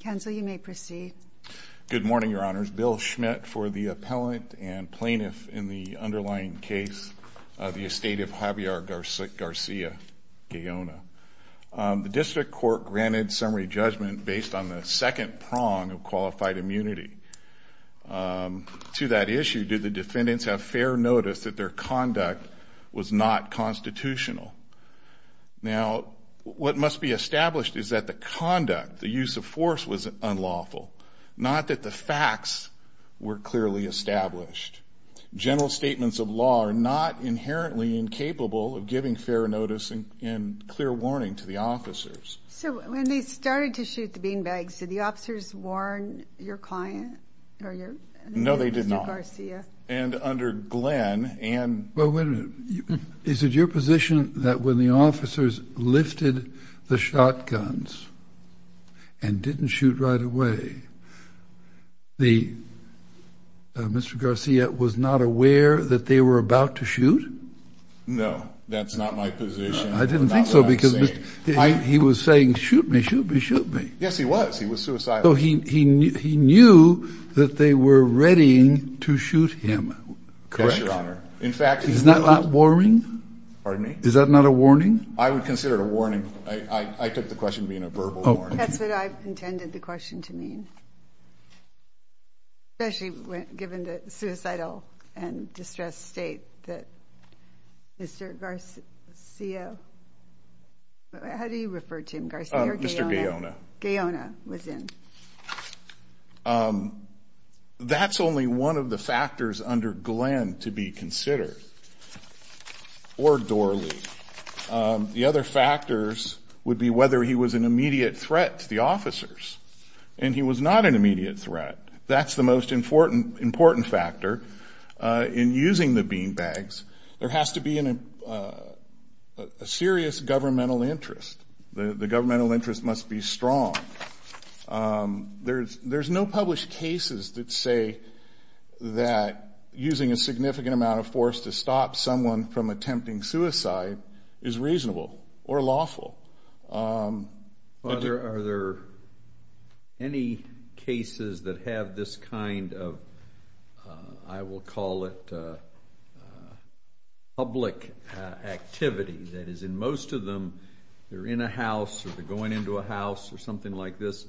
Counsel, you may proceed. Good morning, Your Honors. Bill Schmidt for the appellant and plaintiff in the underlying case of the estate of Javier Garcia Gaona. The district court granted summary judgment based on the second prong of qualified immunity. To that issue, did the defendants have fair notice that their conduct was not constitutional? Now, what must be established is that the conduct, the use of force, was unlawful. Not that the facts were clearly established. General statements of law are not inherently incapable of giving fair notice and clear warning to the officers. So when they started to shoot the beanbags, did the officers warn your client? No, they didn't. Well, wait a minute. Is it your position that when the officers lifted the shotguns and didn't shoot right away, Mr. Garcia was not aware that they were about to shoot? No, that's not my position. I didn't think so, because he was saying, shoot me, shoot me, shoot me. Yes, he was. He was suicidal. So he knew that they were readying to shoot him. Correct, Your Honor. In fact... Is that not a warning? Pardon me? Is that not a warning? I would consider it a warning. I took the question being a verbal warning. That's what I intended the question to mean. Especially given the suicidal and distressed state that Mr. Garcia... how do you refer to him? Mr. Gaona. Gaona was in. That's only one of the factors under Glenn to be considered, or Dorley. The other factors would be whether he was an immediate threat to the officers. And he was not an immediate threat. That's the most important factor in using the beanbags. There has to be a serious governmental interest. The governmental interest must be strong. There's no published cases that say that using a significant amount of force to stop someone from attempting suicide is reasonable or lawful. Are there any cases that have this kind of, I will call it, public activity that is in most of them, they're in a house, or they're going into a house, or something like this.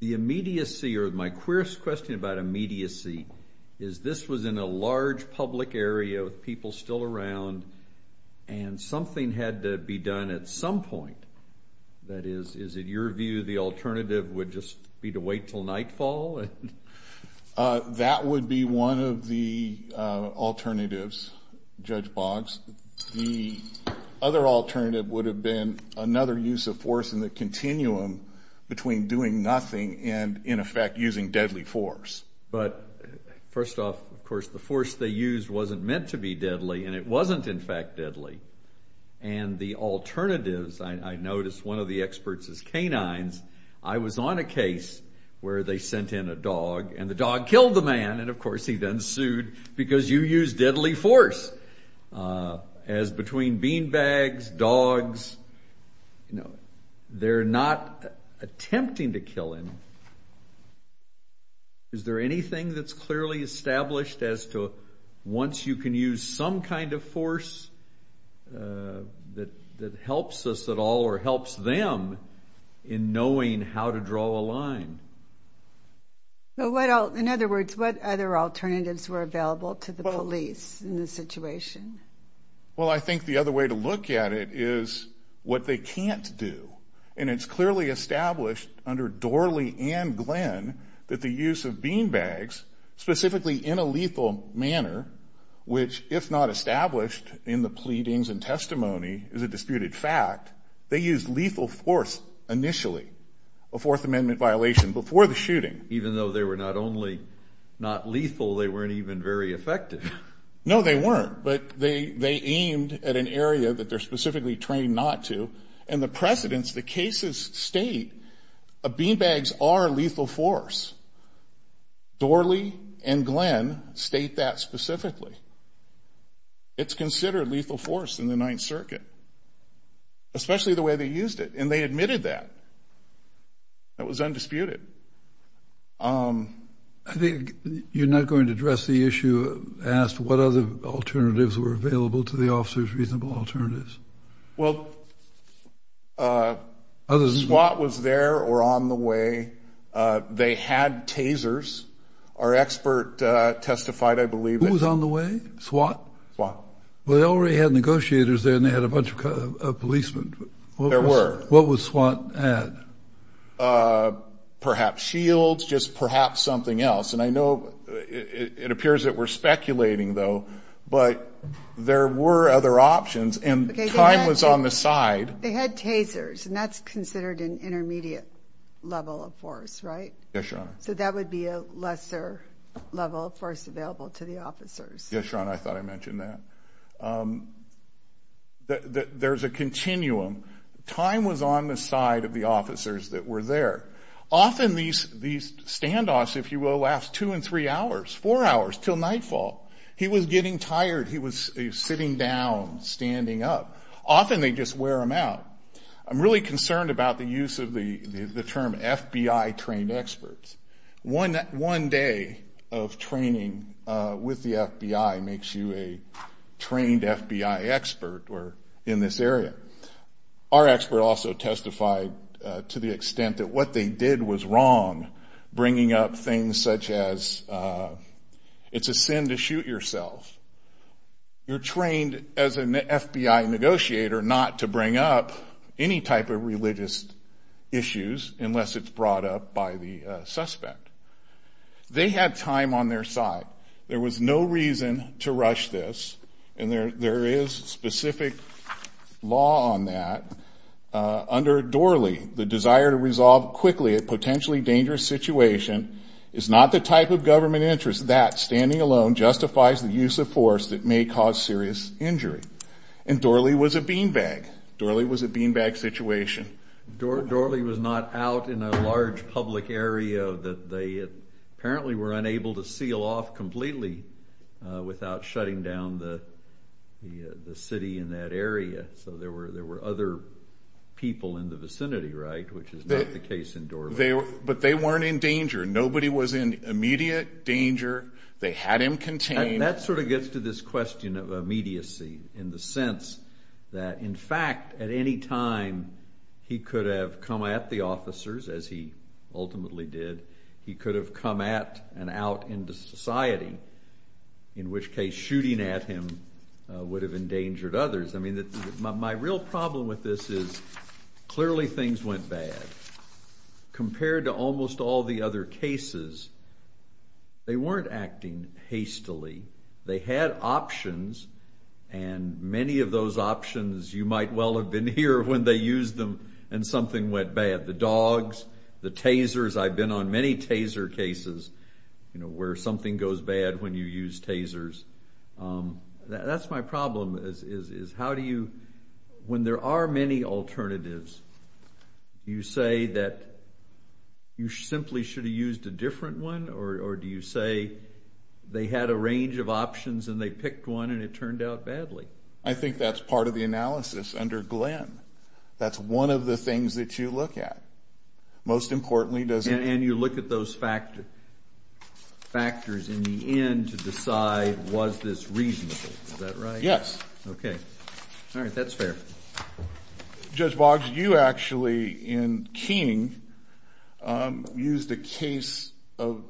The immediacy, or my queerst question about immediacy, is this was in a large public area with people still around, and something had to be done at some point. That is, is it your view the alternative would just be to wait till nightfall? That would be one of the alternatives, Judge Boggs. The other alternative would have been another use of force in the continuum between doing nothing and, in effect, using deadly force. But first off, of course, the force they used wasn't meant to be deadly, and it wasn't, in fact, deadly. And the alternatives, I noticed one of the experts is canines. I was on a case where they sent in a dog, and the dog killed the man. And, of course, he then sued, because you used deadly force. As between beanbags, dogs, you know, they're not attempting to kill him. Is there anything that's clearly established as to, once you can use some kind of force that helps us at all, or helps them in knowing how to draw a line? Well, in other words, what other alternatives were available to the police in this situation? Well, I think the other way to look at it is what they can't do. And it's clearly established under Dorley and Glenn that the use of force in the pleadings and testimony is a disputed fact. They used lethal force initially, a Fourth Amendment violation, before the shooting. Even though they were not only not lethal, they weren't even very effective. No, they weren't. But they aimed at an area that they're specifically trained not to. And the precedents, the cases state beanbags are lethal force. Dorley and Glenn state that specifically. It's considered lethal force in the Ninth Circuit, especially the way they used it. And they admitted that. That was undisputed. I think you're not going to address the issue as to what other alternatives were available to the officers, reasonable alternatives. Well, SWAT was there or on the way. They had tasers. Our expert testified, I believe. Who was on the way? SWAT? Well, they already had negotiators there and they had a bunch of policemen. There were. What was SWAT at? Perhaps shields, just perhaps something else. And I know it appears that we're speculating, though. But there were other options and time was on the side. They had tasers and that's considered an intermediate level of force, right? Yes, Your Honor. So that would be a lesser level of force available to the officers. Yes, Your Honor. I thought I mentioned that. There's a continuum. Time was on the side of the officers that were there. Often these standoffs, if you will, last two and three hours, four hours till nightfall. He was getting tired. He was sitting down, standing up. Often they just wear them out. I'm really concerned about the use of the term FBI trained experts. One day of training with the FBI makes you a trained FBI expert in this area. Our expert also testified to the extent that what they did was wrong, bringing up things such as it's a sin to shoot yourself. You're trained as an FBI negotiator not to bring up any type of religious issues unless it's brought up by the suspect. They had time on their side. There was no reason to rush this and there is specific law on that. Under Dorley, the potentially dangerous situation is not the type of government interest that standing alone justifies the use of force that may cause serious injury. And Dorley was a beanbag. Dorley was a beanbag situation. Dorley was not out in a large public area that they apparently were unable to seal off completely without shutting down the city in that area. So there were other people in the area. But they weren't in danger. Nobody was in immediate danger. They had him contained. And that sort of gets to this question of immediacy in the sense that in fact at any time he could have come at the officers as he ultimately did. He could have come at and out into society, in which case shooting at him would have endangered others. I mean my real problem with this is clearly things went bad compared to almost all the other cases. They weren't acting hastily. They had options and many of those options you might well have been here when they used them and something went bad. The dogs, the tasers. I've been on many taser cases where something goes bad when you use tasers. That's my problem is how do you, when there are many alternatives, you say that you simply should have used a different one or do you say they had a range of options and they picked one and it turned out badly? I think that's part of the analysis under Glenn. That's one of the things that you look at. Most importantly does... And you look at those factors in the end to decide was this reasonable. Is that right? Yes. Okay. All right. That's fair. Judge Boggs, you actually in King used a case of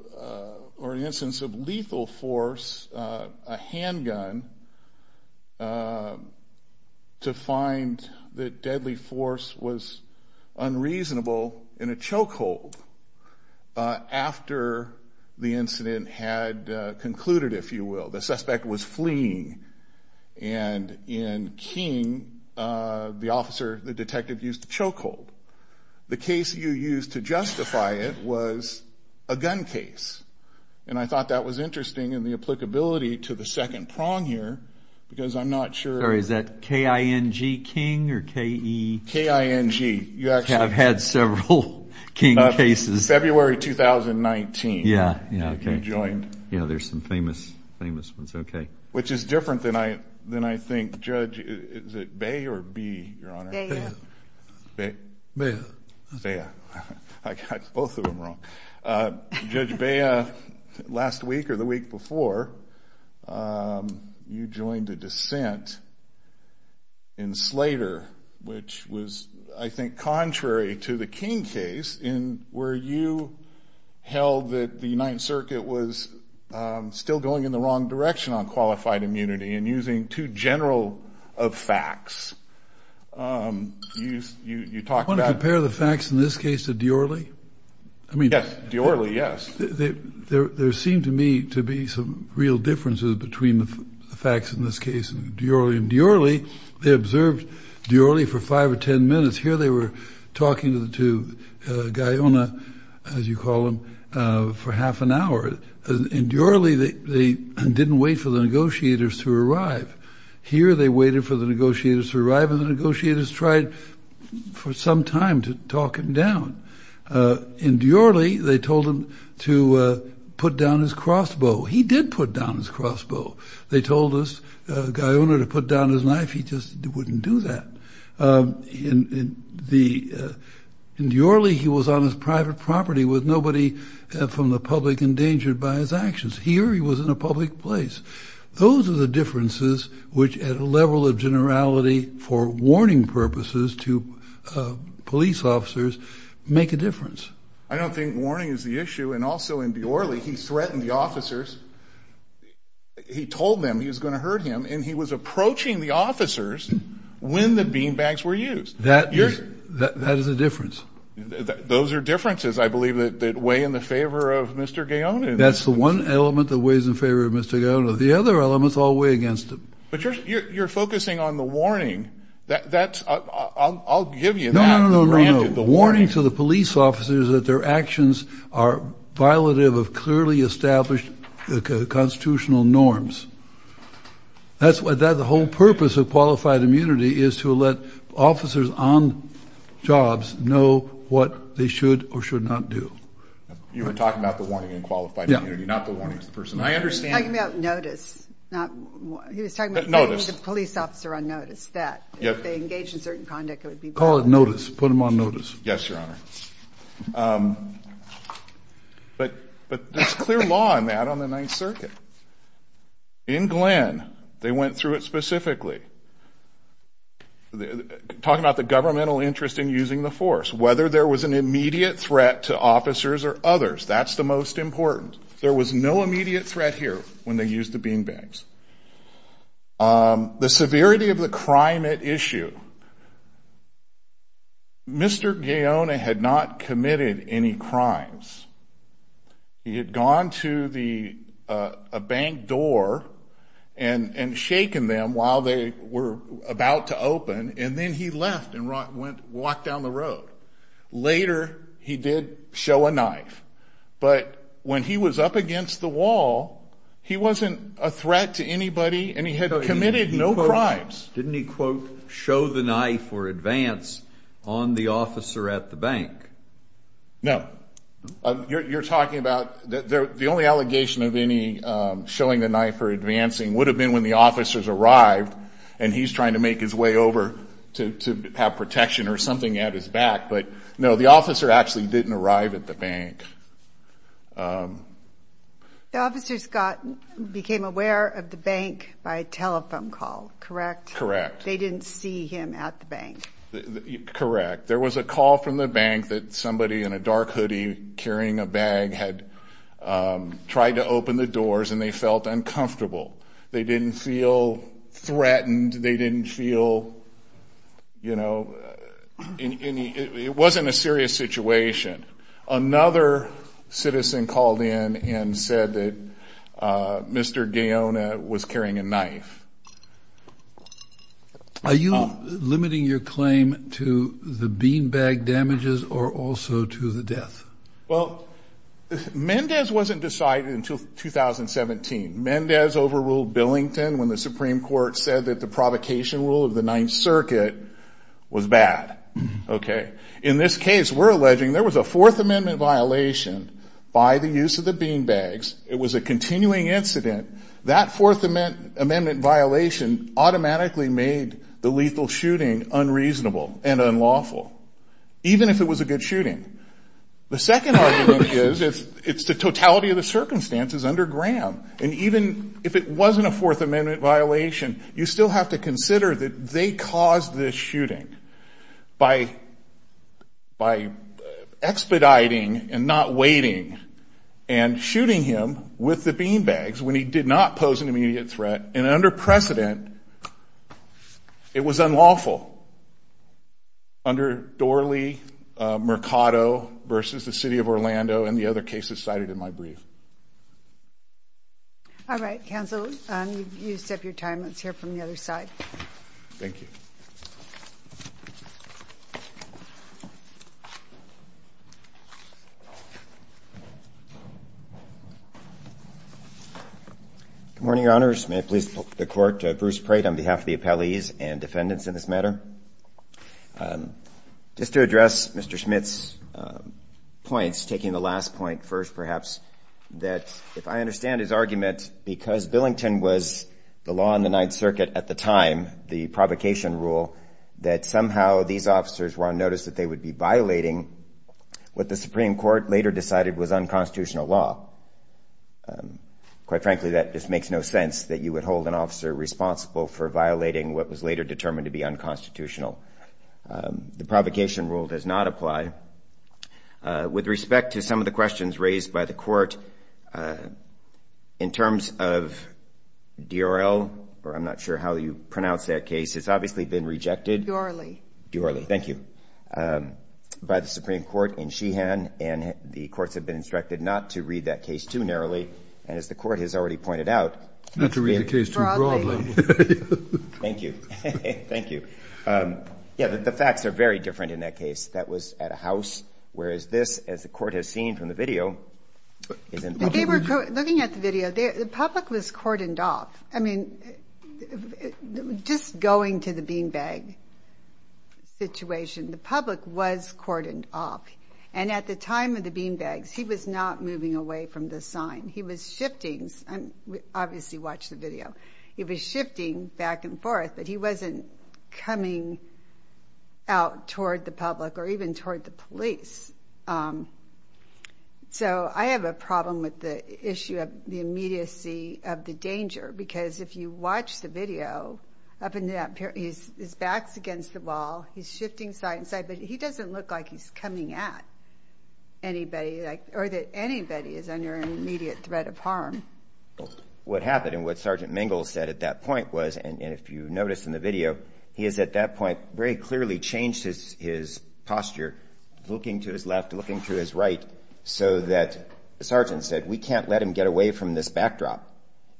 or an instance of lethal force, a handgun, to find that deadly force was unreasonable in a chokehold after the incident had concluded, if you will. The suspect was King, the officer, the detective used the chokehold. The case you used to justify it was a gun case and I thought that was interesting in the applicability to the second prong here because I'm not sure... Or is that K-I-N-G King or K-E... K-I-N-G. You actually... I've had several King cases. February 2019. Yeah. Yeah. Okay. You joined. Yeah. There's some famous, famous ones. Okay. Which is different than I think Judge... Is it Bay or Bea, Your Honor? Bea. Bea. Bea. I got both of them wrong. Judge Bea, last week or the week before, you joined a dissent in Slater, which was, I think, contrary to the King case in where you held that the United Circuit was still going in the wrong direction on qualified immunity and using too general of facts. You talked about... Want to compare the facts in this case to Diorly? Yes. Diorly, yes. There seemed to me to be some real differences between the facts in this case and Diorly. In Diorly, they observed Diorly for five or ten minutes. Here they were talking to Guyona, as you call him, for half an hour. In Diorly, they didn't wait for the negotiators to arrive. Here they waited for the negotiators to arrive and the negotiators tried for some time to talk him down. In Diorly, they told him to put down his crossbow. He did put down his crossbow. They told us, Guyona, to put down his knife. He just wouldn't do that. In Diorly, he was on his private property with nobody from the public endangered by his actions. Here, he was in a public place. Those are the differences which, at a level of generality for warning purposes to police officers, make a difference. I don't think warning is the issue and also in Diorly, he threatened the officers. He told them he was going to hurt him and he was approaching the officers when the beanbags were used. That is a difference. Those are differences, I believe, that weigh in the favor of Mr. Guyona. That's the one element that weighs in favor of Mr. Guyona. The other elements all weigh against him. But you're focusing on the warning. I'll give you that. No, no, no. The warning to the police officers that their actions are violative of clearly established constitutional norms. That's what the whole purpose of qualified immunity is, to let officers on jobs know what they should or should not do. You were talking about the warning in qualified immunity, not the warnings. I understand. He was talking about notice. He was talking about putting the police officer on notice. If they engage in certain conduct, it would be wrong. Call it notice. Put them on notice. Yes, Your Honor. But there's clear law on that on the Talk about the governmental interest in using the force. Whether there was an immediate threat to officers or others. That's the most important. There was no immediate threat here when they used the beanbags. The severity of the crime at issue. Mr. Guyona had not committed any crimes. He had gone to a bank door and shaken them while they were about to open, and then he left and walked down the road. Later, he did show a knife. But when he was up against the wall, he wasn't a threat to anybody, and he had committed no crimes. Didn't he, quote, show the knife or advance on the officer at the bank? No. You're talking about the only allegation of any showing the knife or advancing would have been when the officers arrived and he's trying to make his way over to have protection or something at his back. But no, the officer actually didn't arrive at the bank. The officers became aware of the bank by telephone call, correct? Correct. They didn't see him at the bank. Correct. There was a call from the bank that somebody in a dark hoodie carrying a bag had tried to open the doors and they felt uncomfortable. They didn't feel threatened. They didn't feel, you know, it wasn't a serious situation. Another citizen called in and said that Mr. Gaona was carrying a knife. Are you limiting your claim to the beanbag damages or also to the death? Well, Mendez wasn't decided until 2017. Mendez overruled Billington when the Supreme Court said that the provocation rule of the Ninth Circuit was bad. Okay. In this case, we're alleging there was a Fourth Amendment violation by the use of the beanbags. It was a continuing incident. That Fourth Amendment violation automatically made the lethal shooting unreasonable and unlawful, even if it was a good shooting. The second argument is it's the totality of the circumstances under Graham. And even if it wasn't a Fourth Amendment violation, you still have to consider that they caused this shooting by expediting and not waiting and shooting him with the beanbags when he did not pose an immediate threat. And under precedent, it was unlawful under Dorley, Mercado versus the city of Orlando and the other cases cited in my brief. All right, counsel, you set your time. Let's hear from the other side. Thank you. Good morning, Your Honors. May I please put the Court to Bruce Prate on behalf of the appellees and defendants in this matter. Just to address Mr. Smith's points, taking the last point first, perhaps, that if I understand his argument, because Billington was the law on the Ninth Circuit at the time, the provocation rule, that somehow these officers were on notice that they would be violating what the Supreme Court later decided was unconstitutional law. Quite frankly, that just makes no sense that you would hold an officer responsible for violating what was later determined to be unconstitutional. The provocation rule does not apply. With respect to some of the questions raised by the Court, in terms of DRL, or I'm not sure how you pronounce that case, it's obviously been rejected. Dorley. Dorley, thank you. By the Supreme Court in Sheehan, and the courts have been instructed not to read that case too narrowly. And as the Court has already pointed out. Not to read the case too broadly. Thank you. Thank you. Yeah, the facts are very different in that case. That was at a house, whereas this, as the Court has seen from the video, is in public. Looking at the video, the public was cordoned off. I mean, just going to the beanbag situation, the public was cordoned off. And at the time of the beanbags, he was not moving away from the sign. He was shifting. Obviously, watch the video. He was shifting back and forth, but he wasn't coming out toward the public or even toward the police. So I have a problem with the issue of the immediacy of the danger. Because if you watch the video, up in that period, his back's against the wall. He's shifting side to side, but he doesn't look like he's coming at anybody. What happened and what Sergeant Mengel said at that point was, and if you noticed in the video, he has at that point very clearly changed his posture, looking to his left, looking to his right, so that the sergeant said, we can't let him get away from this backdrop.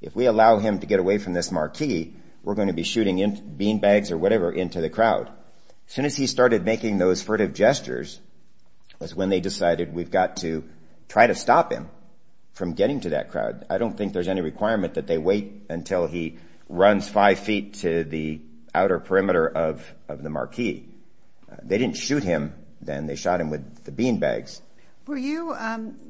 If we allow him to get away from this marquee, we're going to be shooting beanbags or whatever into the crowd. As soon as he started making those furtive gestures was when they decided we've got to try to stop him from getting to that crowd. I don't think there's any requirement that they wait until he runs five feet to the outer perimeter of the marquee. They didn't shoot him then. They shot him with the beanbags. Were you,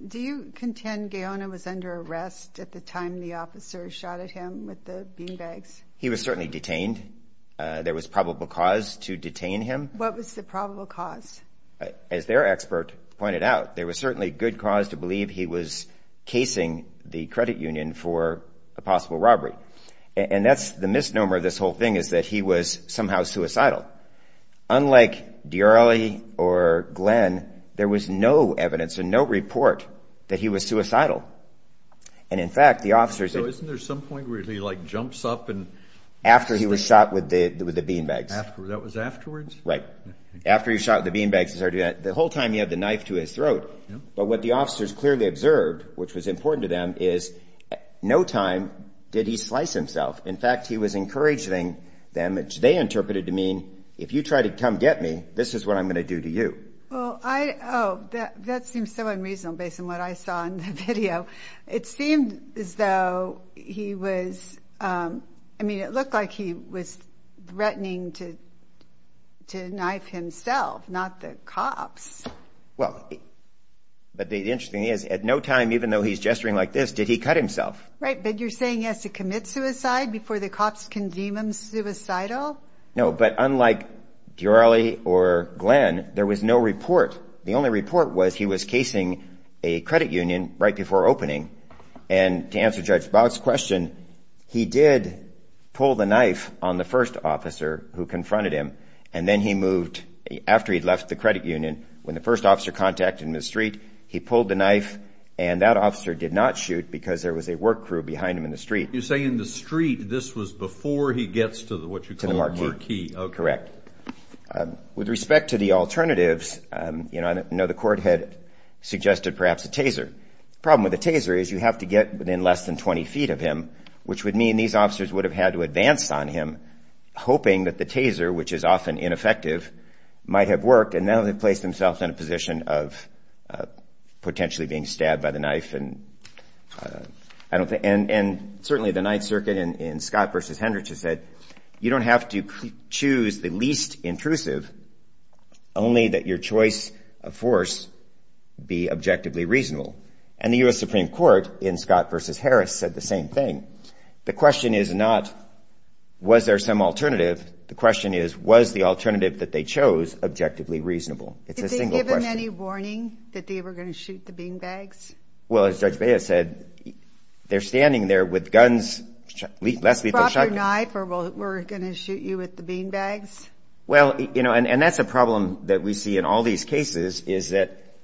do you contend Guyana was under arrest at the time the officers shot at him with the beanbags? He was certainly detained. There was probable cause to detain him. What was the probable cause? As their expert pointed out, there was certainly good cause to believe he was casing the credit union for a possible robbery. And that's the misnomer of this whole thing is that he was somehow suicidal. Unlike Diorre or Glenn, there was no evidence and no report that he was suicidal. And, in fact, the officers – So isn't there some point where he like jumps up and – After he was shot with the beanbags. That was afterwards? Right. After he was shot with the beanbags, the whole time he had the knife to his throat. But what the officers clearly observed, which was important to them, is no time did he slice himself. In fact, he was encouraging them, which they interpreted to mean, if you try to come get me, this is what I'm going to do to you. Well, I – oh, that seems so unreasonable based on what I saw in the video. It seemed as though he was – I mean, it looked like he was threatening to knife himself, not the cops. Well, but the interesting thing is, at no time, even though he's gesturing like this, did he cut himself. Right, but you're saying he has to commit suicide before the cops can deem him suicidal? No, but unlike Diorre or Glenn, there was no report. The only report was he was casing a credit union right before opening, and to answer Judge Boggs' question, he did pull the knife on the first officer who confronted him, and then he moved – after he'd left the credit union, when the first officer contacted him in the street, he pulled the knife, and that officer did not shoot because there was a work crew behind him in the street. You're saying in the street, this was before he gets to what you call the marquee. To the marquee, correct. With respect to the alternatives, I know the court had suggested perhaps a taser. The problem with a taser is you have to get within less than 20 feet of him, which would mean these officers would have had to advance on him, hoping that the taser, which is often ineffective, might have worked, and now they've placed themselves in a position of potentially being stabbed by the knife. And certainly the Ninth Circuit in Scott v. Hendricks has said, you don't have to choose the least intrusive, only that your choice of force be objectively reasonable. And the U.S. Supreme Court in Scott v. Harris said the same thing. The question is not, was there some alternative? The question is, was the alternative that they chose objectively reasonable? It's a single question. Did they give him any warning that they were going to shoot the beanbags? Well, as Judge Baez said, they're standing there with guns – Drop your knife or we're going to shoot you with the beanbags? Well, you know, and that's a problem that we see in all these cases is that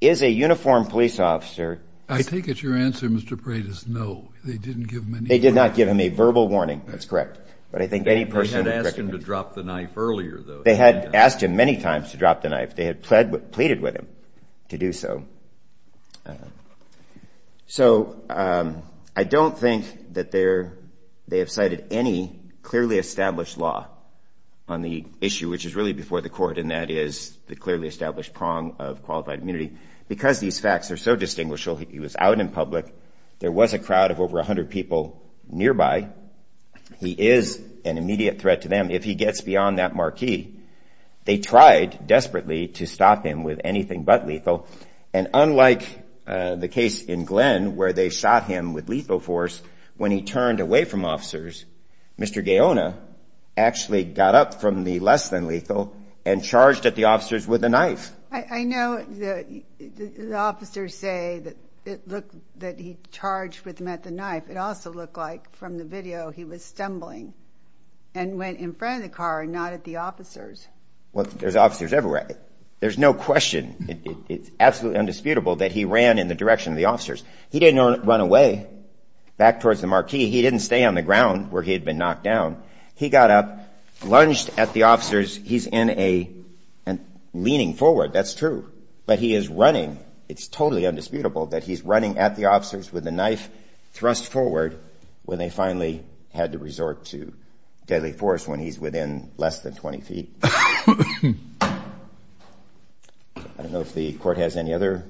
is a uniformed police officer – I think it's your answer, Mr. Paredes, no. They didn't give him any warning. They did not give him a verbal warning. That's correct. But I think any person – They had asked him to drop the knife earlier, though. They had asked him many times to drop the knife. They had pleaded with him to do so. So I don't think that they have cited any clearly established law on the issue, which is really before the court, and that is the clearly established prong of qualified immunity. Because these facts are so distinguishable, he was out in public. There was a crowd of over 100 people nearby. He is an immediate threat to them. If he gets beyond that marquee, they tried desperately to stop him with anything but lethal. And unlike the case in Glenn where they shot him with lethal force, when he turned away from officers, Mr. Gaona actually got up from the less-than-lethal and charged at the officers with a knife. I know the officers say that it looked that he charged with them at the knife. It also looked like from the video he was stumbling and went in front of the car and not at the officers. Well, there's officers everywhere. There's no question, it's absolutely undisputable that he ran in the direction of the officers. He didn't run away back towards the marquee. He didn't stay on the ground where he had been knocked down. He got up, lunged at the officers. He's leaning forward. That's true. But he is running. It's totally undisputable that he's running at the officers with a knife thrust forward when they finally had to resort to deadly force when he's within less than 20 feet. I don't know if the court has any other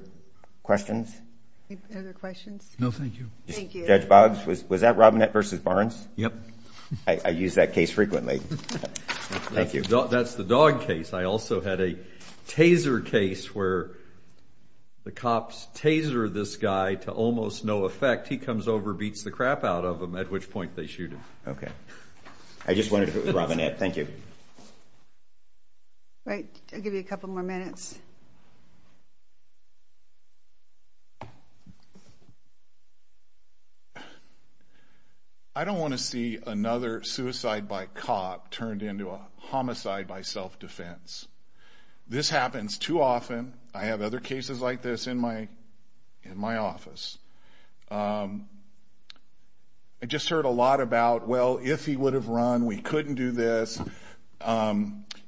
questions. Other questions? No, thank you. Thank you. Judge Boggs, was that Robinette v. Barnes? Yep. I use that case frequently. Thank you. That's the dog case. I also had a taser case where the cops taser this guy to almost no effect. He comes over, beats the crap out of him, at which point they shoot him. Okay. I just wanted to put Robinette. Thank you. All right. I'll give you a couple more minutes. I don't want to see another suicide by cop turned into a homicide by self-defense. This happens too often. I have other cases like this in my office. I just heard a lot about, well, if he would have run, we couldn't do this.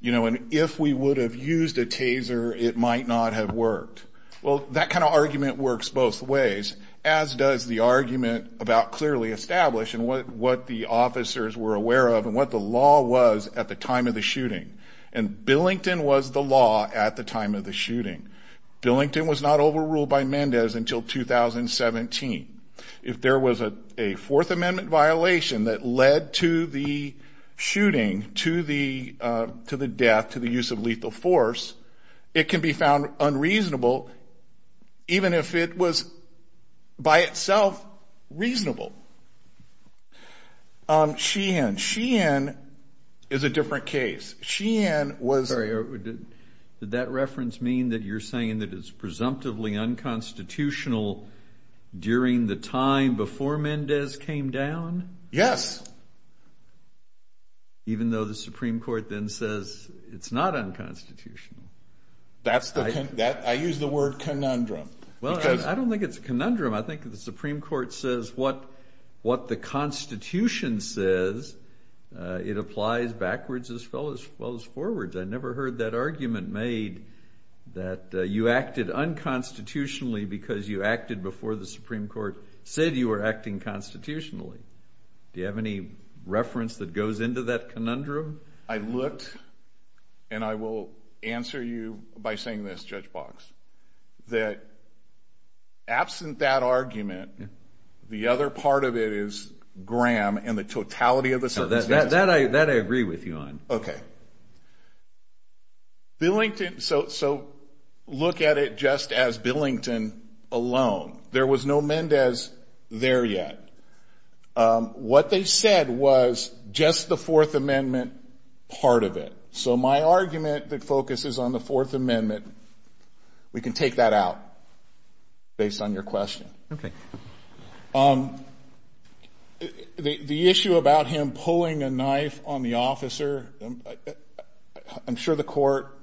You know, and if we would have used a taser, it might not have worked. Well, that kind of argument works both ways, as does the argument about clearly established and what the officers were aware of and what the law was at the time of the shooting. And Billington was the law at the time of the shooting. Billington was not overruled by Mendez until 2017. If there was a Fourth Amendment violation that led to the shooting, to the death, to the use of lethal force, it can be found unreasonable even if it was by itself reasonable. Sheehan. Sheehan is a different case. Sheehan was. Sorry. Did that reference mean that you're saying that it's presumptively unconstitutional during the time before Mendez came down? Yes. Even though the Supreme Court then says it's not unconstitutional. That's the. I use the word conundrum. Well, I don't think it's a conundrum. I think the Supreme Court says what the Constitution says, it applies backwards as well as forwards. I never heard that argument made that you acted unconstitutionally because you acted before the Supreme Court said you were acting constitutionally. Do you have any reference that goes into that conundrum? I looked and I will answer you by saying this, Judge Box, that absent that argument, the other part of it is Graham and the totality of the sentence. That I agree with you on. Okay. Billington. So look at it just as Billington alone. There was no Mendez there yet. What they said was just the Fourth Amendment part of it. So my argument that focuses on the Fourth Amendment, we can take that out based on your question. Okay. The issue about him pulling a knife on the officer, I'm sure the court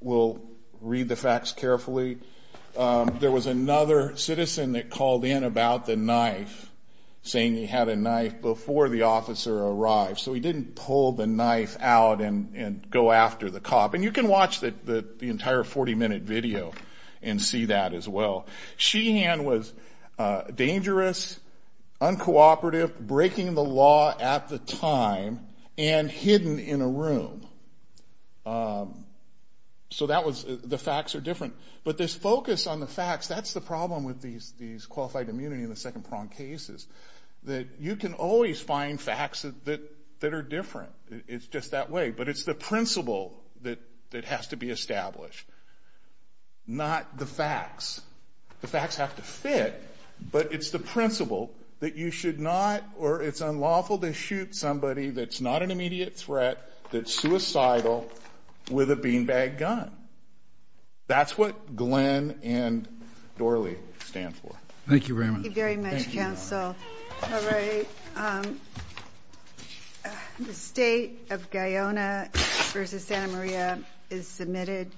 will read the facts carefully. There was another citizen that called in about the knife, saying he had a knife before the officer arrived. So he didn't pull the knife out and go after the cop. And you can watch the entire 40-minute video and see that as well. Sheehan was dangerous, uncooperative, breaking the law at the time, and hidden in a room. So that was the facts are different. But this focus on the facts, that's the problem with these qualified immunity and the second-prong cases, that you can always find facts that are different. It's just that way. But it's the principle that has to be established, not the facts. The facts have to fit. But it's the principle that you should not, or it's unlawful to shoot somebody that's not an immediate threat, that's suicidal, with a beanbag gun. That's what Glenn and Dorley stand for. Thank you very much. Thank you very much, Counsel. All right. The State of Guyana v. Santa Maria is submitted.